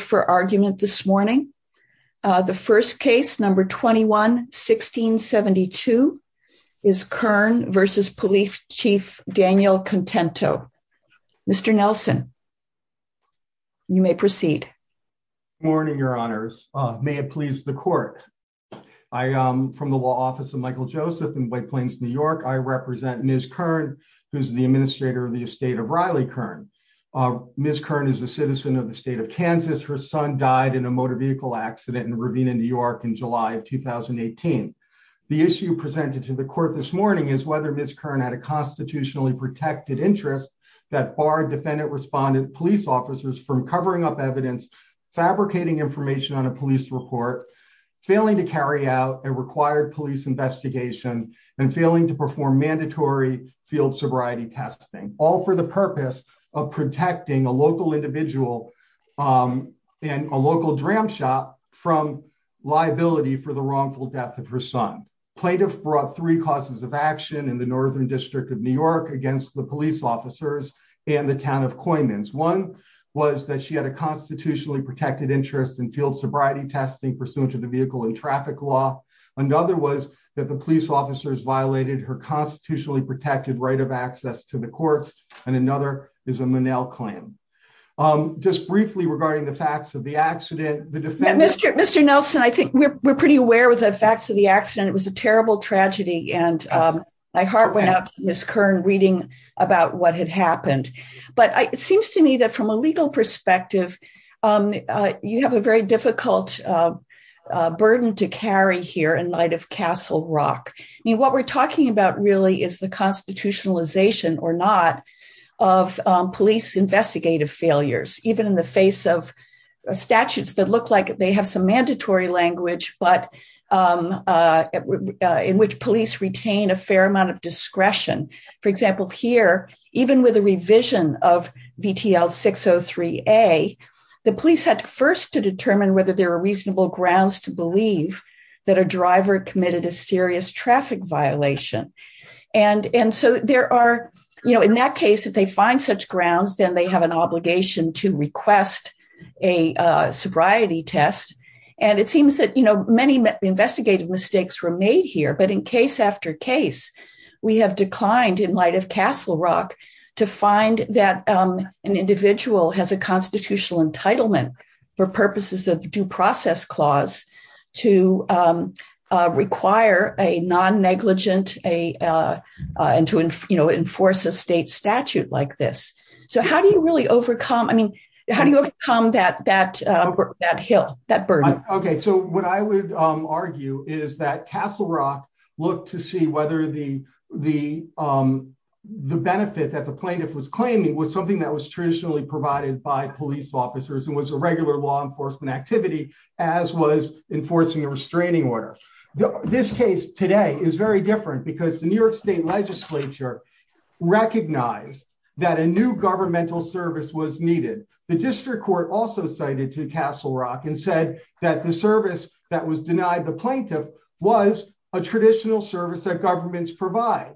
for argument this morning. The first case, number 21-1672, is Kern v. Police Chief Daniel Contento. Mr. Nelson, you may proceed. Good morning, Your Honors. May it please the Court. I am from the Law Office of Michael Joseph in White Plains, New York. I represent Ms. Kern, who is the administrator of the estate of Riley Kern. Ms. Kern is a citizen of the state of Kansas. Her son died in a motor vehicle accident in Ravina, New York, in July of 2018. The issue presented to the Court this morning is whether Ms. Kern had a constitutionally protected interest that barred defendant-respondent police officers from covering up evidence, fabricating information on a police report, failing to carry out a required police investigation, and failing to perform mandatory field sobriety testing, all for the purpose of protecting a local individual and a local dram shop from liability for the wrongful death of her son. Plaintiffs brought three causes of action in the Northern District of New York against the police officers and the town of Coymans. One was that she had a constitutionally protected interest in field sobriety testing pursuant to the vehicle and traffic law. Another was that the police officers violated her constitutionally protected right of access to the courts. And another is a Monell claim. Just briefly regarding the facts of the accident, the defendants... Mr. Nelson, I think we're pretty aware of the facts of the accident. It was a terrible tragedy, and my heart went out to Ms. Kern reading about what had happened. But it seems to me that from a legal perspective, you have a very difficult burden to carry here in light of Castle Rock. What we're talking about really is the constitutionalization, or not, of police investigative failures, even in the face of statutes that look like they have some mandatory language, but in which police retain a fair amount of discretion. For example, here, even with a revision of VTL 603A, the police had first to determine whether there were reasonable grounds to believe that a driver committed a serious traffic violation. In that case, if they find such grounds, then they have an obligation to request a sobriety test. It seems that many investigative mistakes were made here, but in case after case, we have declined in light of Castle Rock to find that an individual has a constitutional entitlement for purposes of due process clause to require a non-negligent and to enforce a state statute like this. How do you overcome that burden? What I would argue is that Castle Rock looked to see whether the benefit that the plaintiff was claiming was something that by police officers and was a regular law enforcement activity, as was enforcing a restraining order. This case today is very different because the New York State Legislature recognized that a new governmental service was needed. The district court also cited to Castle Rock and said that the service that was denied the plaintiff was a traditional service that governments provide.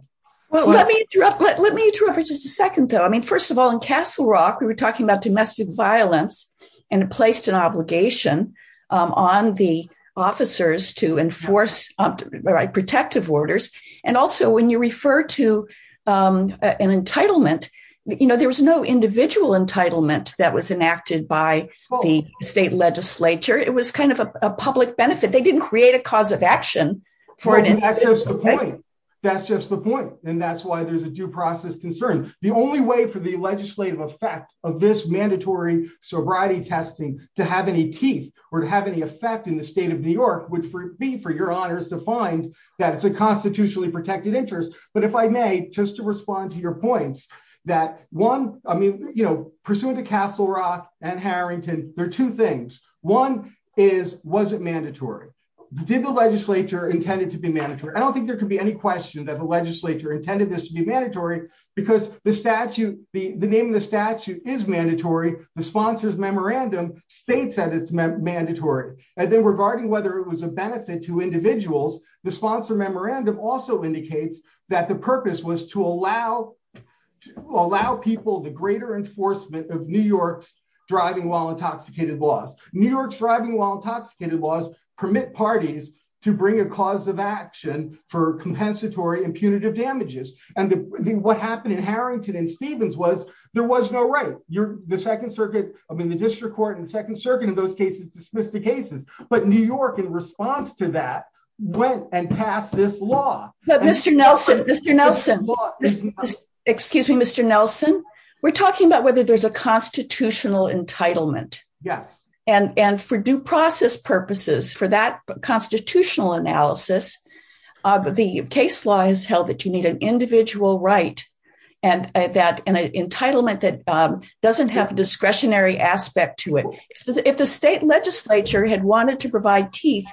Let me interrupt for just a second, though. I mean, first of all, in Castle Rock, they talked about domestic violence and placed an obligation on the officers to enforce protective orders. Also, when you refer to an entitlement, there was no individual entitlement that was enacted by the state legislature. It was kind of a public benefit. They didn't create a cause of action. That's just the point. That's why there's a due process concern. The only way for the legislative effect of this mandatory sobriety testing to have any teeth or to have any effect in the state of New York would be for your honors to find that it's a constitutionally protected interest. But if I may, just to respond to your points, that one, I mean, you know, pursuant to Castle Rock and Harrington, there are two things. One is, was it mandatory? Did the legislature intend it to be mandatory? I don't think there could be any question that the name of the statute is mandatory. The sponsor's memorandum states that it's mandatory. And then regarding whether it was a benefit to individuals, the sponsor memorandum also indicates that the purpose was to allow people the greater enforcement of New York's driving while intoxicated laws. New York's driving while intoxicated laws permit parties to bring a cause of action for compensatory impunitive damages. And what happened in Harrington and Stevens was there was no right. The second circuit, I mean, the district court and second circuit in those cases dismissed the cases. But New York in response to that went and passed this law. But Mr. Nelson, excuse me, Mr. Nelson, we're talking about whether there's a constitutional entitlement. Yes. And for due has held that you need an individual right. And that an entitlement that doesn't have a discretionary aspect to it. If the state legislature had wanted to provide teeth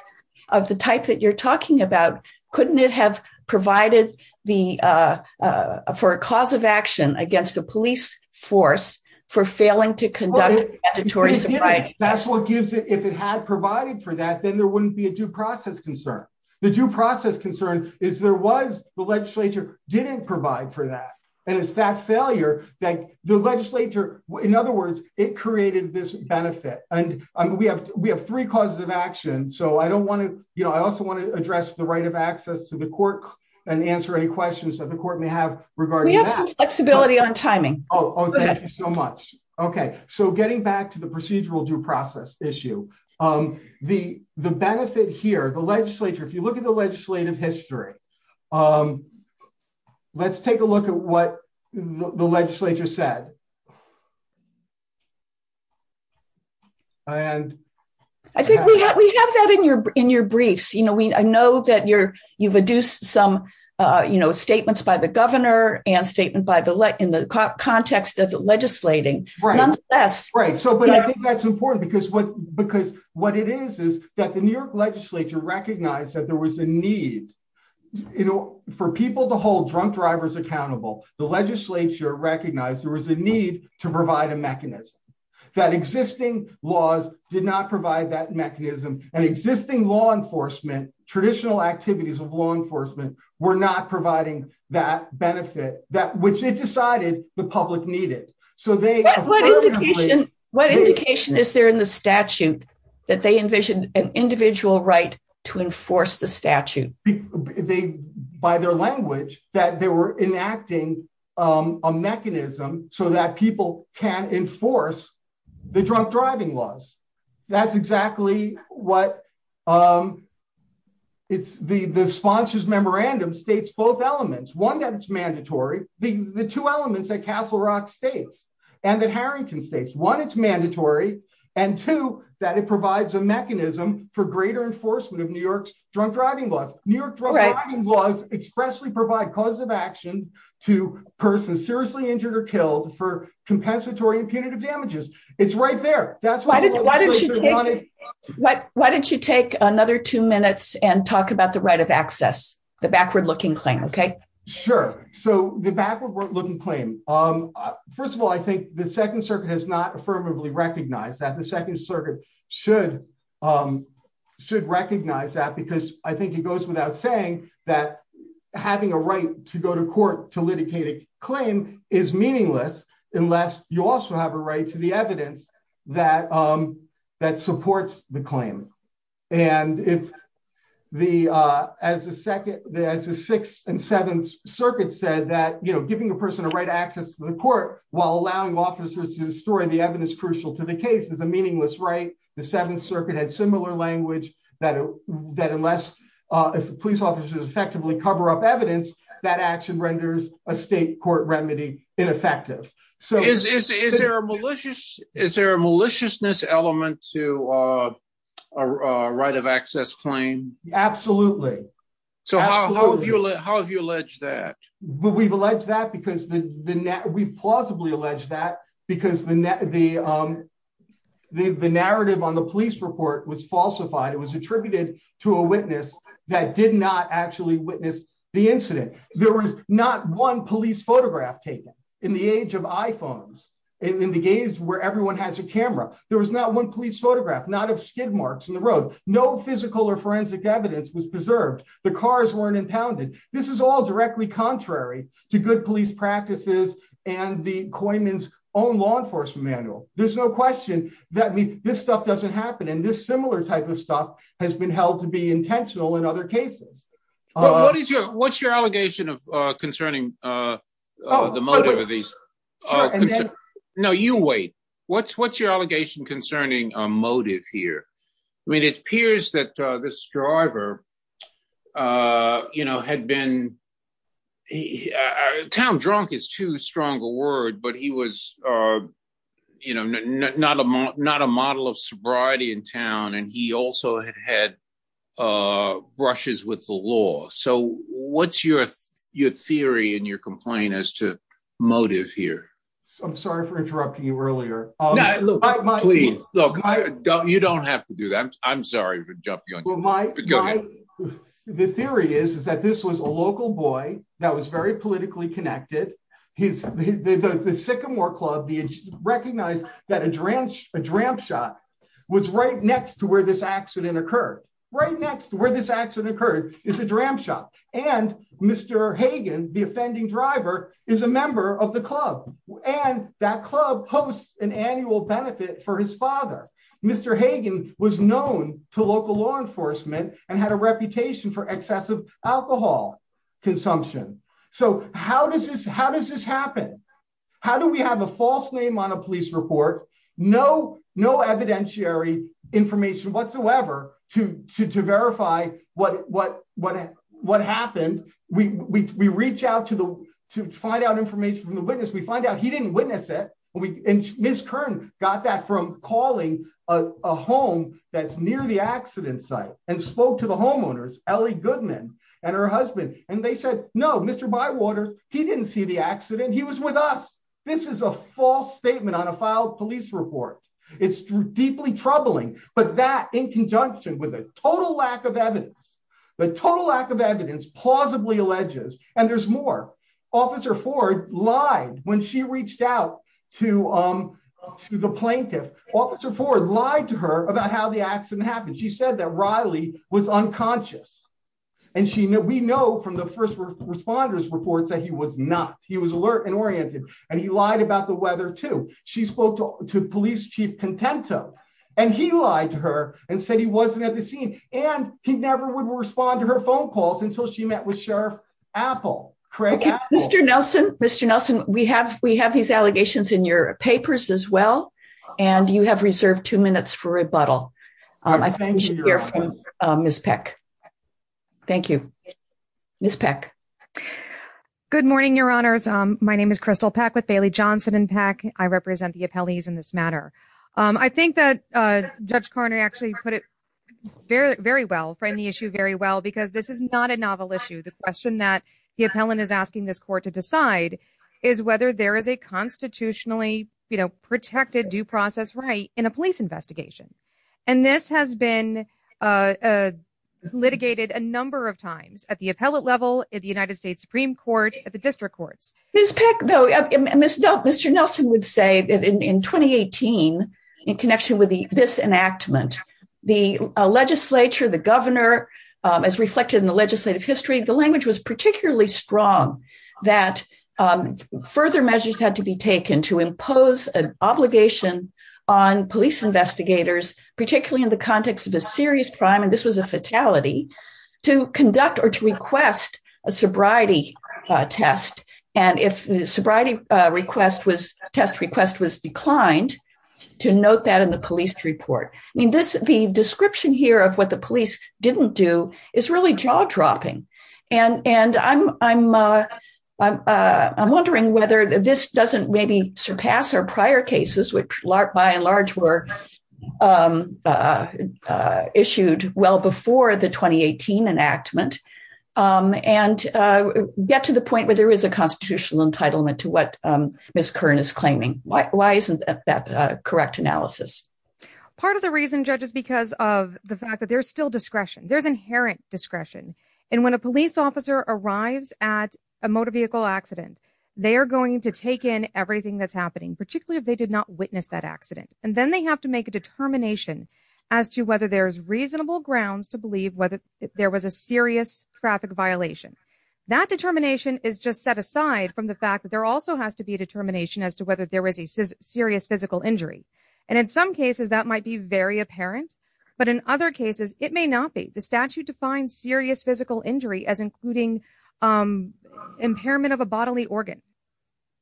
of the type that you're talking about, couldn't it have provided for a cause of action against the police force for failing to conduct mandatory? That's what gives it if it had provided for that, there wouldn't be a due process concern. The due process concern is there was the legislature didn't provide for that. And it's that failure that the legislature, in other words, it created this benefit. And we have we have three causes of action. So I don't want to I also want to address the right of access to the court and answer any questions that the court may have regarding flexibility on timing. Oh, thank you so much. OK, so getting back to the procedural due issue, the the benefit here, the legislature, if you look at the legislative history, let's take a look at what the legislature said. And I think we have that in your in your briefs, you know, I know that you're you've reduced some, you know, statements by the governor and statement by the in the context of the legislating. Right. So but I think that's important because what because what it is is that the New York legislature recognized that there was a need, you know, for people to hold drunk drivers accountable. The legislature recognized there was a need to provide a mechanism that existing laws did not provide that mechanism and existing law enforcement, traditional activities of law enforcement were not providing that benefit that which it decided the public needed. So what indication is there in the statute that they envisioned an individual right to enforce the statute by their language, that they were enacting a mechanism so that people can enforce the drunk driving laws? That's exactly what it's the sponsor's memorandum states both elements, one that it's mandatory, the two elements that Castle Rock states, and that Harrington states, one, it's mandatory, and two, that it provides a mechanism for greater enforcement of New York's drunk driving laws, New York driving laws expressly provide cause of action to persons seriously injured or killed for compensatory and punitive damages. It's right there. That's why didn't you? Why didn't you take another two minutes and talk about the right of the backward-looking claim? Okay, sure. So the backward-looking claim, first of all, I think the Second Circuit has not affirmatively recognized that the Second Circuit should recognize that because I think it goes without saying that having a right to go to court to litigate a claim is meaningless unless you also have a right to the evidence that supports the as the Sixth and Seventh Circuit said that giving a person a right access to the court while allowing officers to destroy the evidence crucial to the case is a meaningless right. The Seventh Circuit had similar language that unless police officers effectively cover up evidence, that action renders a state court remedy ineffective. Is there a maliciousness element to a right of access claim? Absolutely. So how have you alleged that? We've alleged that because we've plausibly alleged that because the narrative on the police report was falsified. It was attributed to a witness that did not actually witness the incident. There was not one police photograph taken in the age of iPhones in the days where everyone has a camera. There was not one police photograph, not of skid marks in the road. No physical or forensic evidence was preserved. The cars weren't impounded. This is all directly contrary to good police practices and the Coyman's own law enforcement manual. There's no question that this stuff doesn't happen, and this similar type of stuff has been held to be intentional in other cases. What's your allegation concerning the motive of these? No, you wait. What's your allegation concerning a motive here? I mean, it appears that this driver, you know, had been town drunk is too strong a word, but he was, you know, not a model of sobriety in town, and he also had brushes with the law. So what's your theory and your complaint as to motive here? I'm sorry for interrupting you earlier. Please, look, you don't have to do that. I'm sorry for jumping on you. The theory is that this was a local boy that was very politically connected. The Sycamore Club recognized that a dram shot was right next to where this accident occurred. Right next to where this accident occurred is a dram shot, and Mr. Hagan, the offending driver, is a member of the club, and that club hosts an annual benefit for his father. Mr. Hagan was known to local law enforcement and had a reputation for excessive alcohol consumption. So how does this happen? How do we have a false name on a police report, no evidentiary information whatsoever to verify what happened? We reach out to find out information from the witness. We find out he didn't witness it, and Ms. Kern got that from calling a home that's near the accident site and spoke to the homeowners, Ellie Goodman and her husband, and they said, no, Mr. Bywater, he didn't see the accident. He was with us. This is a false statement on a filed police report. It's deeply troubling, but that in conjunction with a total lack of evidence, the total lack of evidence plausibly alleges, and there's more. Officer Ford lied when she reached out to the plaintiff. Officer Ford lied to her about how the accident happened. She said that Riley was unconscious, and we know from the first responders' reports that he was not. He lied about the weather, too. She spoke to police chief Contento, and he lied to her and said he wasn't at the scene, and he never would respond to her phone calls until she met with Sheriff Apple. Mr. Nelson, we have these allegations in your papers as well, and you have reserved two minutes for rebuttal. I think we should hear from Ms. Peck. Thank you. Ms. Peck. Good morning, Your Honors. My name is Crystal Peck with Bailey Johnson and Peck. I represent the appellees in this matter. I think that Judge Carney actually put it very, very well, framed the issue very well, because this is not a novel issue. The question that the appellant is asking this court to decide is whether there is a constitutionally, you know, protected due process right in a police investigation, and this has been litigated a number of times at the appellate level, at the United States Supreme Court, at the district courts. Ms. Peck, though, Mr. Nelson would say that in 2018, in connection with this enactment, the legislature, the governor, as reflected in the legislative history, the language was particularly strong that further measures had to be taken to impose an obligation on police investigators, particularly in the sobriety test, and if the sobriety test request was declined, to note that in the police report. I mean, the description here of what the police didn't do is really jaw-dropping, and I'm wondering whether this doesn't maybe surpass our prior cases, which by and large were enactment, and get to the point where there is a constitutional entitlement to what Ms. Kern is claiming. Why isn't that correct analysis? Part of the reason, Judge, is because of the fact that there's still discretion. There's inherent discretion, and when a police officer arrives at a motor vehicle accident, they are going to take in everything that's happening, particularly if they did not witness that accident, and then they have to make a determination as to whether there's reasonable grounds to believe whether there was a serious traffic violation. That determination is just set aside from the fact that there also has to be a determination as to whether there was a serious physical injury, and in some cases, that might be very apparent, but in other cases, it may not be. The statute defines serious physical injury as including impairment of a bodily organ.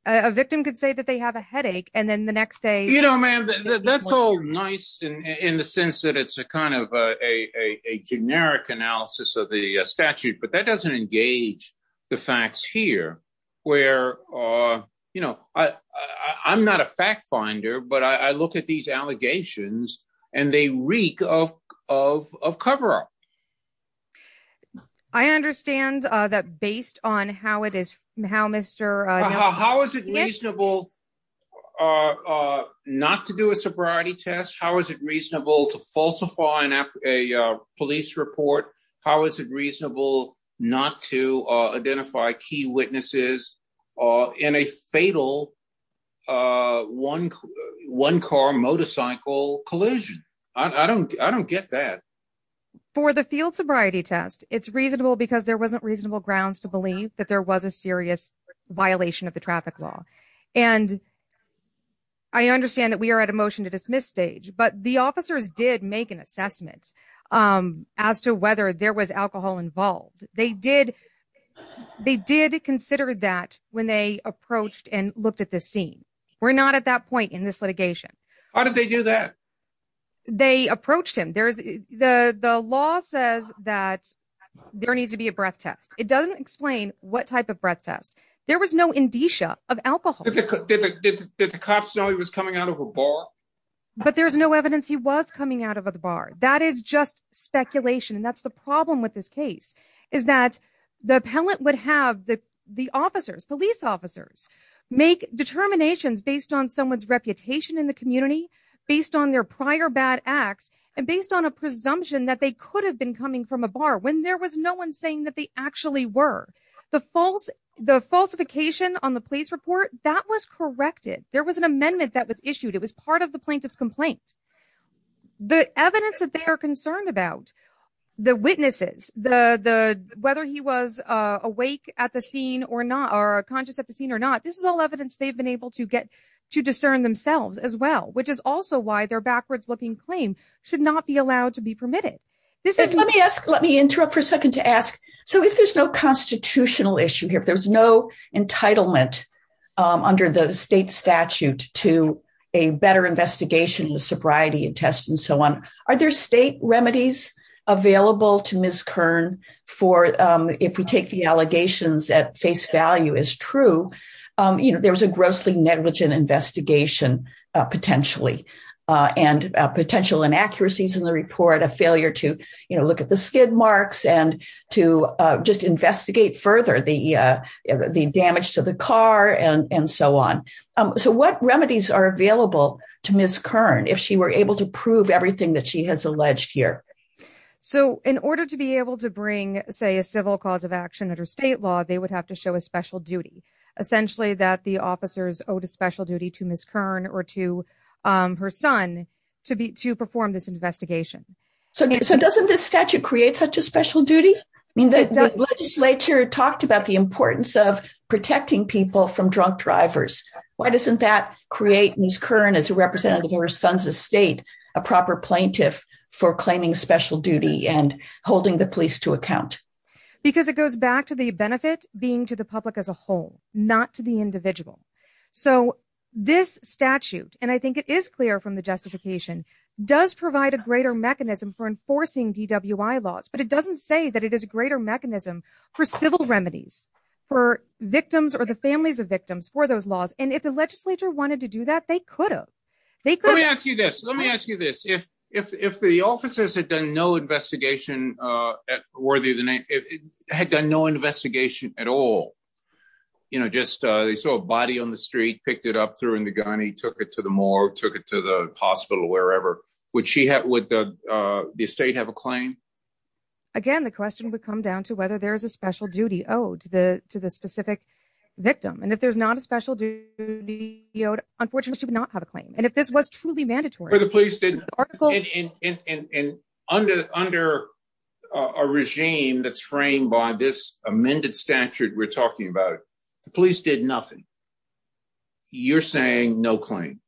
A victim could say that they have a headache, and then the next day... You know, ma'am, that's all nice in the sense that it's a kind of a generic analysis of the statute, but that doesn't engage the facts here, where, you know, I'm not a fact finder, but I look at these allegations, and they reek of cover-up. I understand that based on how it is... How is it reasonable not to do a sobriety test? How is it reasonable to falsify a police report? How is it reasonable not to identify key witnesses in a fatal one-car motorcycle collision? I don't get that. For the field sobriety test, it's reasonable because there wasn't reasonable grounds to a serious violation of the traffic law, and I understand that we are at a motion-to-dismiss stage, but the officers did make an assessment as to whether there was alcohol involved. They did consider that when they approached and looked at this scene. We're not at that point in this litigation. How did they do that? They approached him. The law says that there needs to be a breath test. There was no indicia of alcohol. Did the cops know he was coming out of a bar? But there's no evidence he was coming out of a bar. That is just speculation, and that's the problem with this case, is that the appellant would have the officers, police officers, make determinations based on someone's reputation in the community, based on their prior bad acts, and based on a presumption that they could have been coming from a bar when there was no one that they actually were. The falsification on the police report, that was corrected. There was an amendment that was issued. It was part of the plaintiff's complaint. The evidence that they are concerned about, the witnesses, whether he was awake at the scene or not, or conscious at the scene or not, this is all evidence they've been able to get to discern themselves as well, which is also why their backwards-looking claim should not be allowed to be permitted. Let me ask, let me interrupt for a second to ask, so if there's no constitutional issue here, if there's no entitlement under the state statute to a better investigation with sobriety and test and so on, are there state remedies available to Ms. Kern for, if we take the allegations that face value is true, you know, there was a grossly negligent investigation potentially, and potential inaccuracies in the report, a failure to, you know, look at the skid marks and to just investigate further the damage to the car and so on. So what remedies are available to Ms. Kern if she were able to prove everything that she has alleged here? So in order to be able to bring, say, a civil cause of action under state law, they would have to show a special duty, essentially that the officers owed a special duty from her son to perform this investigation. So doesn't this statute create such a special duty? I mean, the legislature talked about the importance of protecting people from drunk drivers. Why doesn't that create Ms. Kern, as a representative of her son's estate, a proper plaintiff for claiming special duty and holding the police to account? Because it goes back to the benefit being to the public as a whole, not to the individual. So this statute, and I think it is clear from the justification, does provide a greater mechanism for enforcing DWI laws. But it doesn't say that it is a greater mechanism for civil remedies, for victims or the families of victims for those laws. And if the legislature wanted to do that, they could have. Let me ask you this. Let me ask you this. If the officers had done no investigation worthy of the name, had done no investigation at all, you know, just they saw a body on the up through in the gun, he took it to the morgue, took it to the hospital, wherever, would she have with the state have a claim? Again, the question would come down to whether there is a special duty owed to the to the specific victim. And if there's not a special duty, you know, unfortunately, she would not have a claim. And if this was truly mandatory, the police did under under a regime that's framed by this amended statute, we're talking about the you're saying no claim?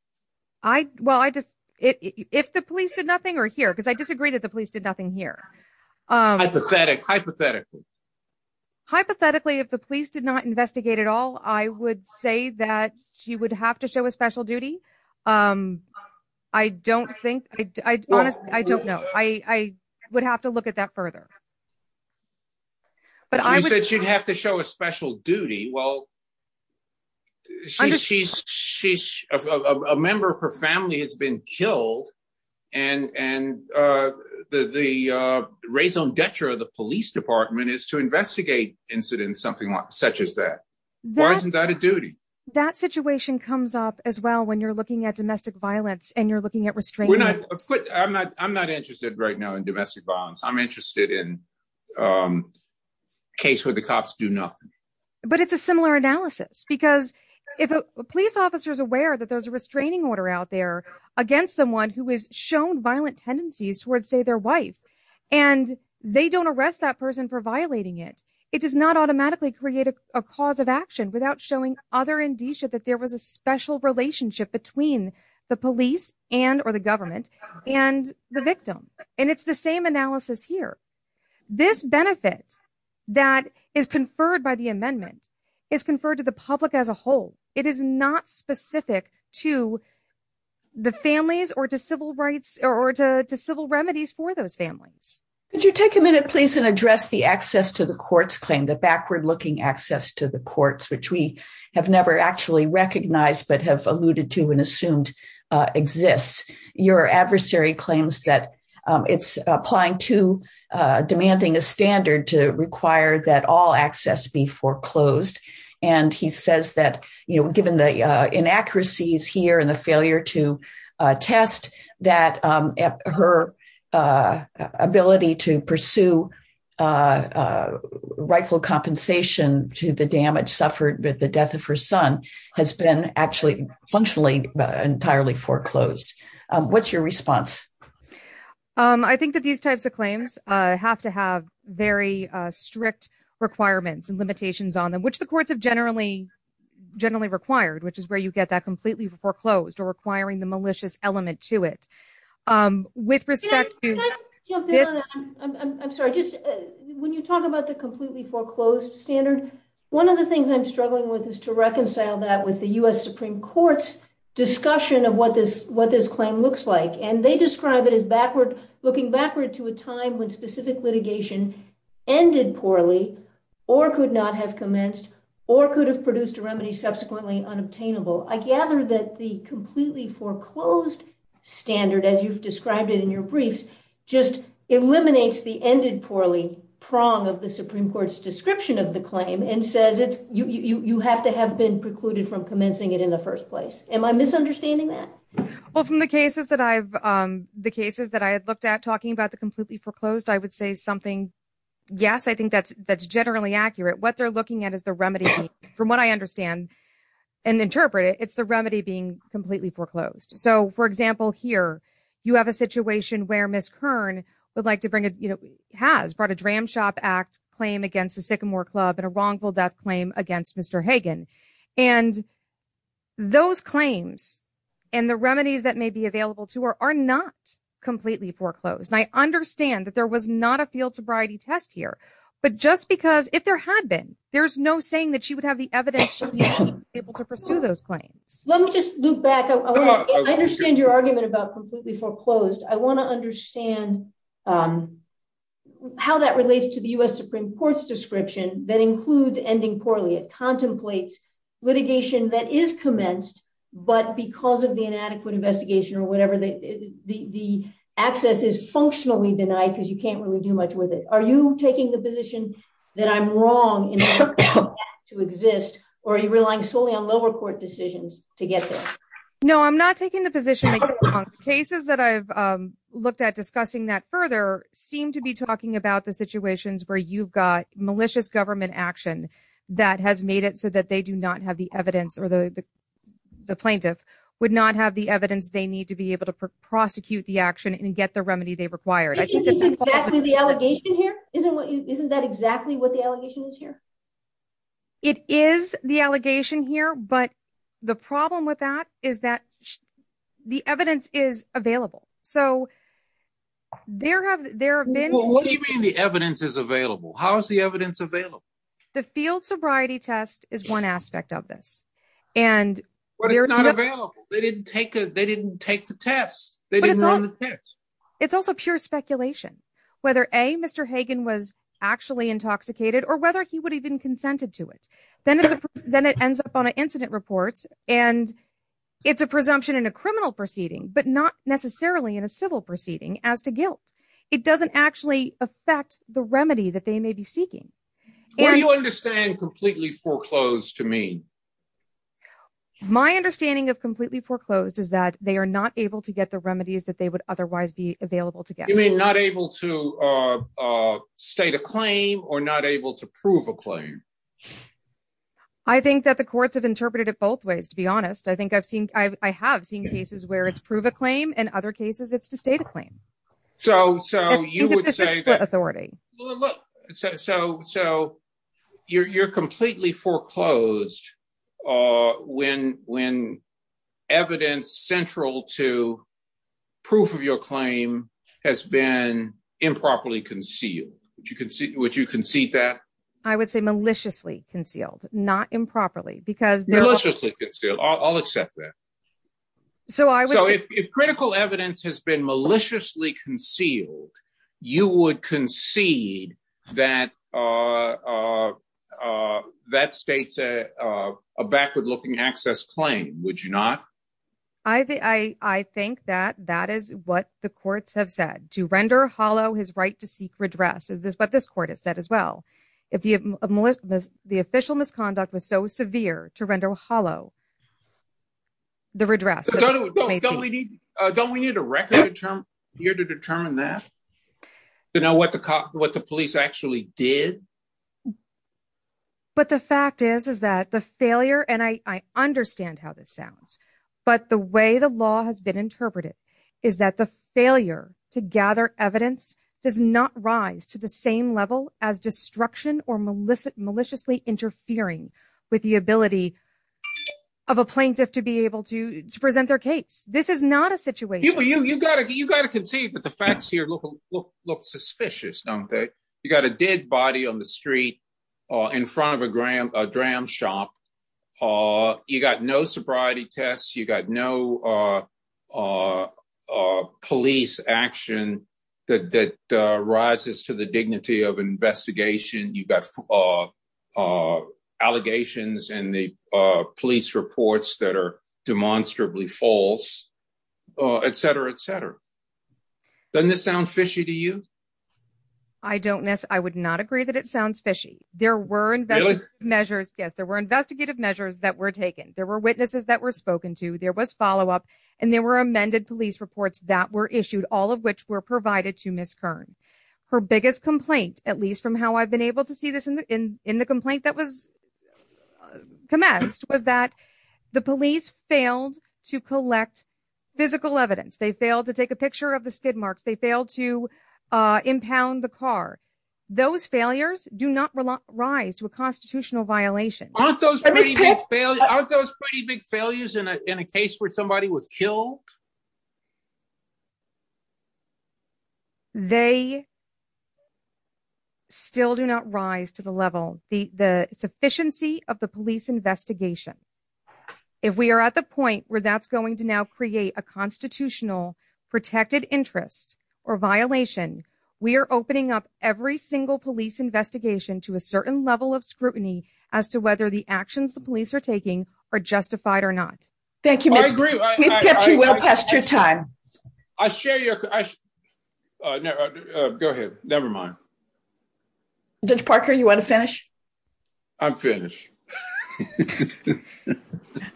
I Well, I just, if the police did nothing or here, because I disagree that the police did nothing here. Hypothetically, hypothetically, hypothetically, if the police did not investigate at all, I would say that she would have to show a special duty. I don't think I honestly, I don't know, I would have to look at that further. But I said she'd have to show a special duty. Well, she's a member of her family has been killed. And and the raison d'etre of the police department is to investigate incidents something like such as that. Why isn't that a duty? That situation comes up as well, when you're looking at domestic violence, and you're looking at restraining. I'm not I'm not interested right now in domestic violence. I'm interested in a case where the cops do nothing. But it's a similar analysis. Because if a police officer is aware that there's a restraining order out there against someone who is shown violent tendencies towards, say, their wife, and they don't arrest that person for violating it, it does not automatically create a cause of action without showing other indicia that there was a special relationship between the police and or the government and the victim. And it's same analysis here. This benefit that is conferred by the amendment is conferred to the public as a whole, it is not specific to the families or to civil rights or to civil remedies for those families. Could you take a minute, please, and address the access to the courts claim that backward looking access to the courts, which we have never actually recognized, but have alluded to and it's applying to demanding a standard to require that all access be foreclosed. And he says that, you know, given the inaccuracies here and the failure to test that her ability to pursue rightful compensation to the damage suffered with the death of her son has been actually functionally entirely foreclosed. What's your response? I think that these types of claims have to have very strict requirements and limitations on them, which the courts have generally required, which is where you get that completely foreclosed or requiring the malicious element to it. With respect to this, I'm sorry, just when you talk about the completely foreclosed standard, one of the things I'm interested in is the Supreme Court's discussion of what this claim looks like. And they describe it as backward, looking backward to a time when specific litigation ended poorly or could not have commenced or could have produced a remedy subsequently unobtainable. I gather that the completely foreclosed standard, as you've described it in your briefs, just eliminates the ended poorly prong of the Supreme Court's description of the claim and says you have to have been precluded from commencing it in the first place. Am I misunderstanding that? Well, from the cases that I've looked at talking about the completely foreclosed, I would say something, yes, I think that's generally accurate. What they're looking at is the remedy being, from what I understand and interpret it, it's the remedy being completely foreclosed. So, for example, here, you have a situation where Ms. Kern has brought a Dram Shop Act claim against the Sycamore Club and a wrongful death claim against Mr. Hagan. And those claims and the remedies that may be available to her are not completely foreclosed. I understand that there was not a field sobriety test here. But just because if there had been, there's no saying that she would have the evidence to be able to pursue those claims. Let me just loop back. I understand your argument about completely foreclosed. I want to understand how that relates to the U.S. Supreme Court's description that includes ending poorly. Contemplates litigation that is commenced, but because of the inadequate investigation or whatever, the access is functionally denied because you can't really do much with it. Are you taking the position that I'm wrong to exist, or are you relying solely on lower court decisions to get there? No, I'm not taking the position that you're wrong. Cases that I've looked at discussing that further seem to be talking about the do not have the evidence or the plaintiff would not have the evidence they need to be able to prosecute the action and get the remedy they required. I think this is exactly the allegation here. Isn't that exactly what the allegation is here? It is the allegation here. But the problem with that is that the evidence is available. So there have been. What do you mean the evidence is available? How is the evidence available? The field sobriety test is one aspect of this, and they're not available. They didn't take it. They didn't take the test. They didn't run the test. It's also pure speculation whether a Mr. Hagan was actually intoxicated or whether he would even consented to it. Then it's then it ends up on an incident report. And it's a presumption in a criminal proceeding, but not necessarily in a civil proceeding. As to guilt, it doesn't actually affect the remedy that they may be seeking. What do you understand completely foreclosed to me? My understanding of completely foreclosed is that they are not able to get the remedies that they would otherwise be available to get. You may not able to state a claim or not able to prove a claim. I think that the courts have interpreted it both ways. To be honest, I think I've seen I claim. So you would say that authority. So you're completely foreclosed when evidence central to proof of your claim has been improperly concealed. Would you concede that? I would say maliciously concealed, not improperly because... Maliciously concealed. I'll accept that. So if critical evidence has been maliciously concealed, you would concede that states a backward looking access claim, would you not? I think that that is what the courts have said. To render hollow his right to seek redress is what this court has said as well. If the official misconduct was so severe to render hollow, the redress... Don't we need a record here to determine that? To know what the police actually did? But the fact is, is that the failure, and I understand how this sounds, but the way the law has been interpreted is that the failure to gather evidence does not rise to the same level as destruction or maliciously interfering with the ability of a plaintiff to be able to present their case. This is not a situation... You got to concede that the facts here look suspicious, don't they? You got a dead body on the street in front of a dram shop. You got no sobriety tests. You got no a police action that rises to the dignity of investigation. You've got allegations and the police reports that are demonstrably false, et cetera, et cetera. Doesn't this sound fishy to you? I don't miss. I would not agree that it sounds fishy. There were investigative measures. Yes, there were investigative measures that were taken. There were witnesses that were spoken to, there was follow-up, and there were amended police reports that were issued, all of which were provided to Ms. Kern. Her biggest complaint, at least from how I've been able to see this in the complaint that was commenced, was that the police failed to collect physical evidence. They failed to take a picture of the skid marks. They failed to impound the car. Those failures do not rise to a constitutional violation. Aren't those pretty big failures in a case where somebody was killed? They still do not rise to the level, the sufficiency of the police investigation. If we are at the point where that's going to now create a constitutional protected interest or violation, we are opening up every single police investigation to a certain level of scrutiny as to whether the actions the police are taking are justified or not. Thank you, Mr. Peck. We've kept you well past your time. I share your... Go ahead, never mind. Judge Parker, you want to finish? I'm finished.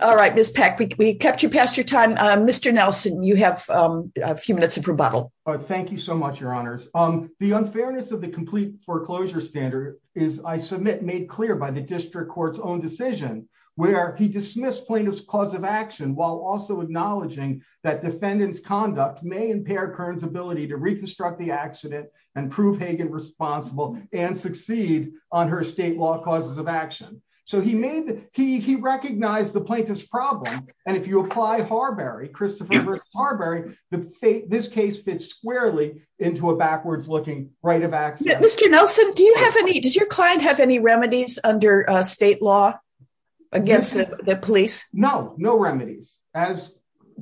All right, Ms. Peck, we kept you past your time. Mr. Nelson, you have a few minutes of rebuttal. Thank you so much, Your Honors. The unfairness of the complete foreclosure standard is, I submit, made clear by the district court's own decision, where he dismissed plaintiff's cause of action while also acknowledging that defendant's conduct may impair Kern's ability to reconstruct the accident and prove Hagen responsible and succeed on her state law causes of action. He recognized the plaintiff's problem. If you apply Harberry, Christopher versus Harberry, this case fits squarely into a backwards-looking right of access. Mr. Nelson, did your client have any remedies under state law against the police? No, no remedies. As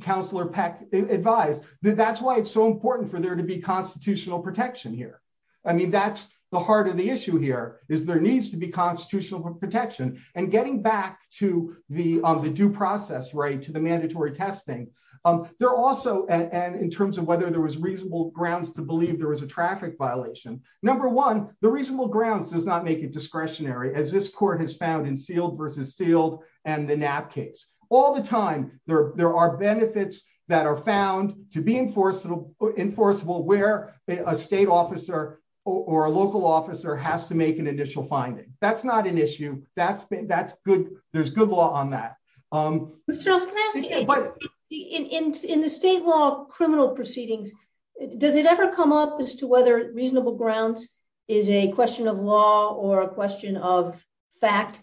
Counselor Peck advised, that's why it's so important for there to be constitutional protection here. I mean, that's the heart of the issue here, is there needs to be constitutional protection. And getting back to the due process, right, to the mandatory testing, there also... And in terms of whether there was reasonable grounds to believe there was traffic violation, number one, the reasonable grounds does not make it discretionary, as this court has found in Sealed versus Sealed and the Knapp case. All the time, there are benefits that are found to be enforceable where a state officer or a local officer has to make an initial finding. That's not an issue. That's good. There's good law on that. Mr. Nelson, can I ask you, in the state law criminal proceedings, does it ever come up as to whether reasonable grounds is a question of law or a question of fact?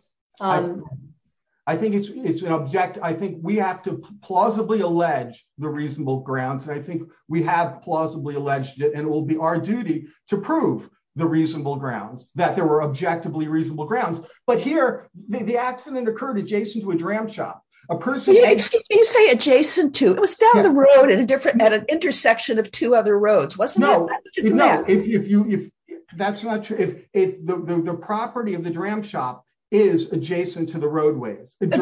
I think it's an object... I think we have to plausibly allege the reasonable grounds. I think we have plausibly alleged it, and it will be our duty to prove the reasonable grounds, that there were objectively reasonable grounds. But here, the accident occurred adjacent to a person... Can you say adjacent to? It was down the road at an intersection of two other roads, wasn't it? No. That's not true. The property of the Dram Shop is adjacent to the roadways. Maybe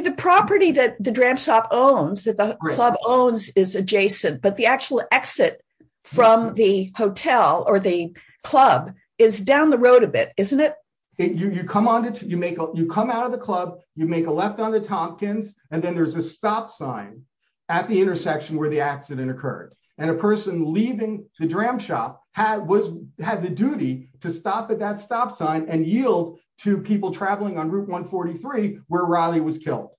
the property that the Dram Shop owns, that the club owns is adjacent, but the actual exit from the hotel or the club is down the road a bit, isn't it? You come out of the club, you make a left on the Tompkins, and then there's a stop sign at the intersection where the accident occurred. And a person leaving the Dram Shop had the duty to stop at that stop sign and yield to people traveling on Route 143, where Riley was killed.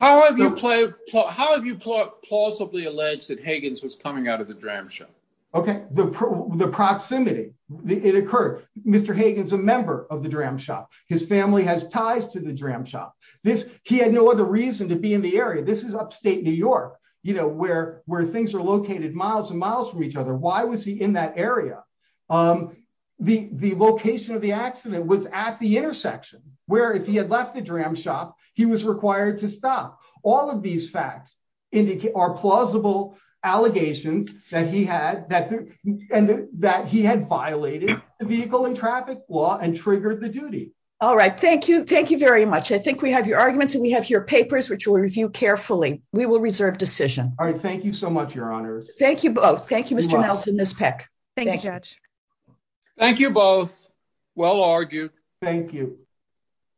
How have you plausibly alleged that Higgins was coming out of the Dram Shop? Okay. The proximity. It occurred. Mr. Higgins is a member of the Dram Shop. His family has ties to the Dram Shop. He had no other reason to be in the area. This is upstate New York, where things are located miles and miles from each other. Why was he in that area? The location of the accident was at the intersection, where if he had left the Dram Shop, he had violated the vehicle and traffic law and triggered the duty. All right. Thank you. Thank you very much. I think we have your arguments and we have your papers, which we'll review carefully. We will reserve decision. All right. Thank you so much, Your Honors. Thank you both. Thank you, Mr. Nelson and Ms. Peck. Thank you, Judge. Thank you both. Well argued. Thank you.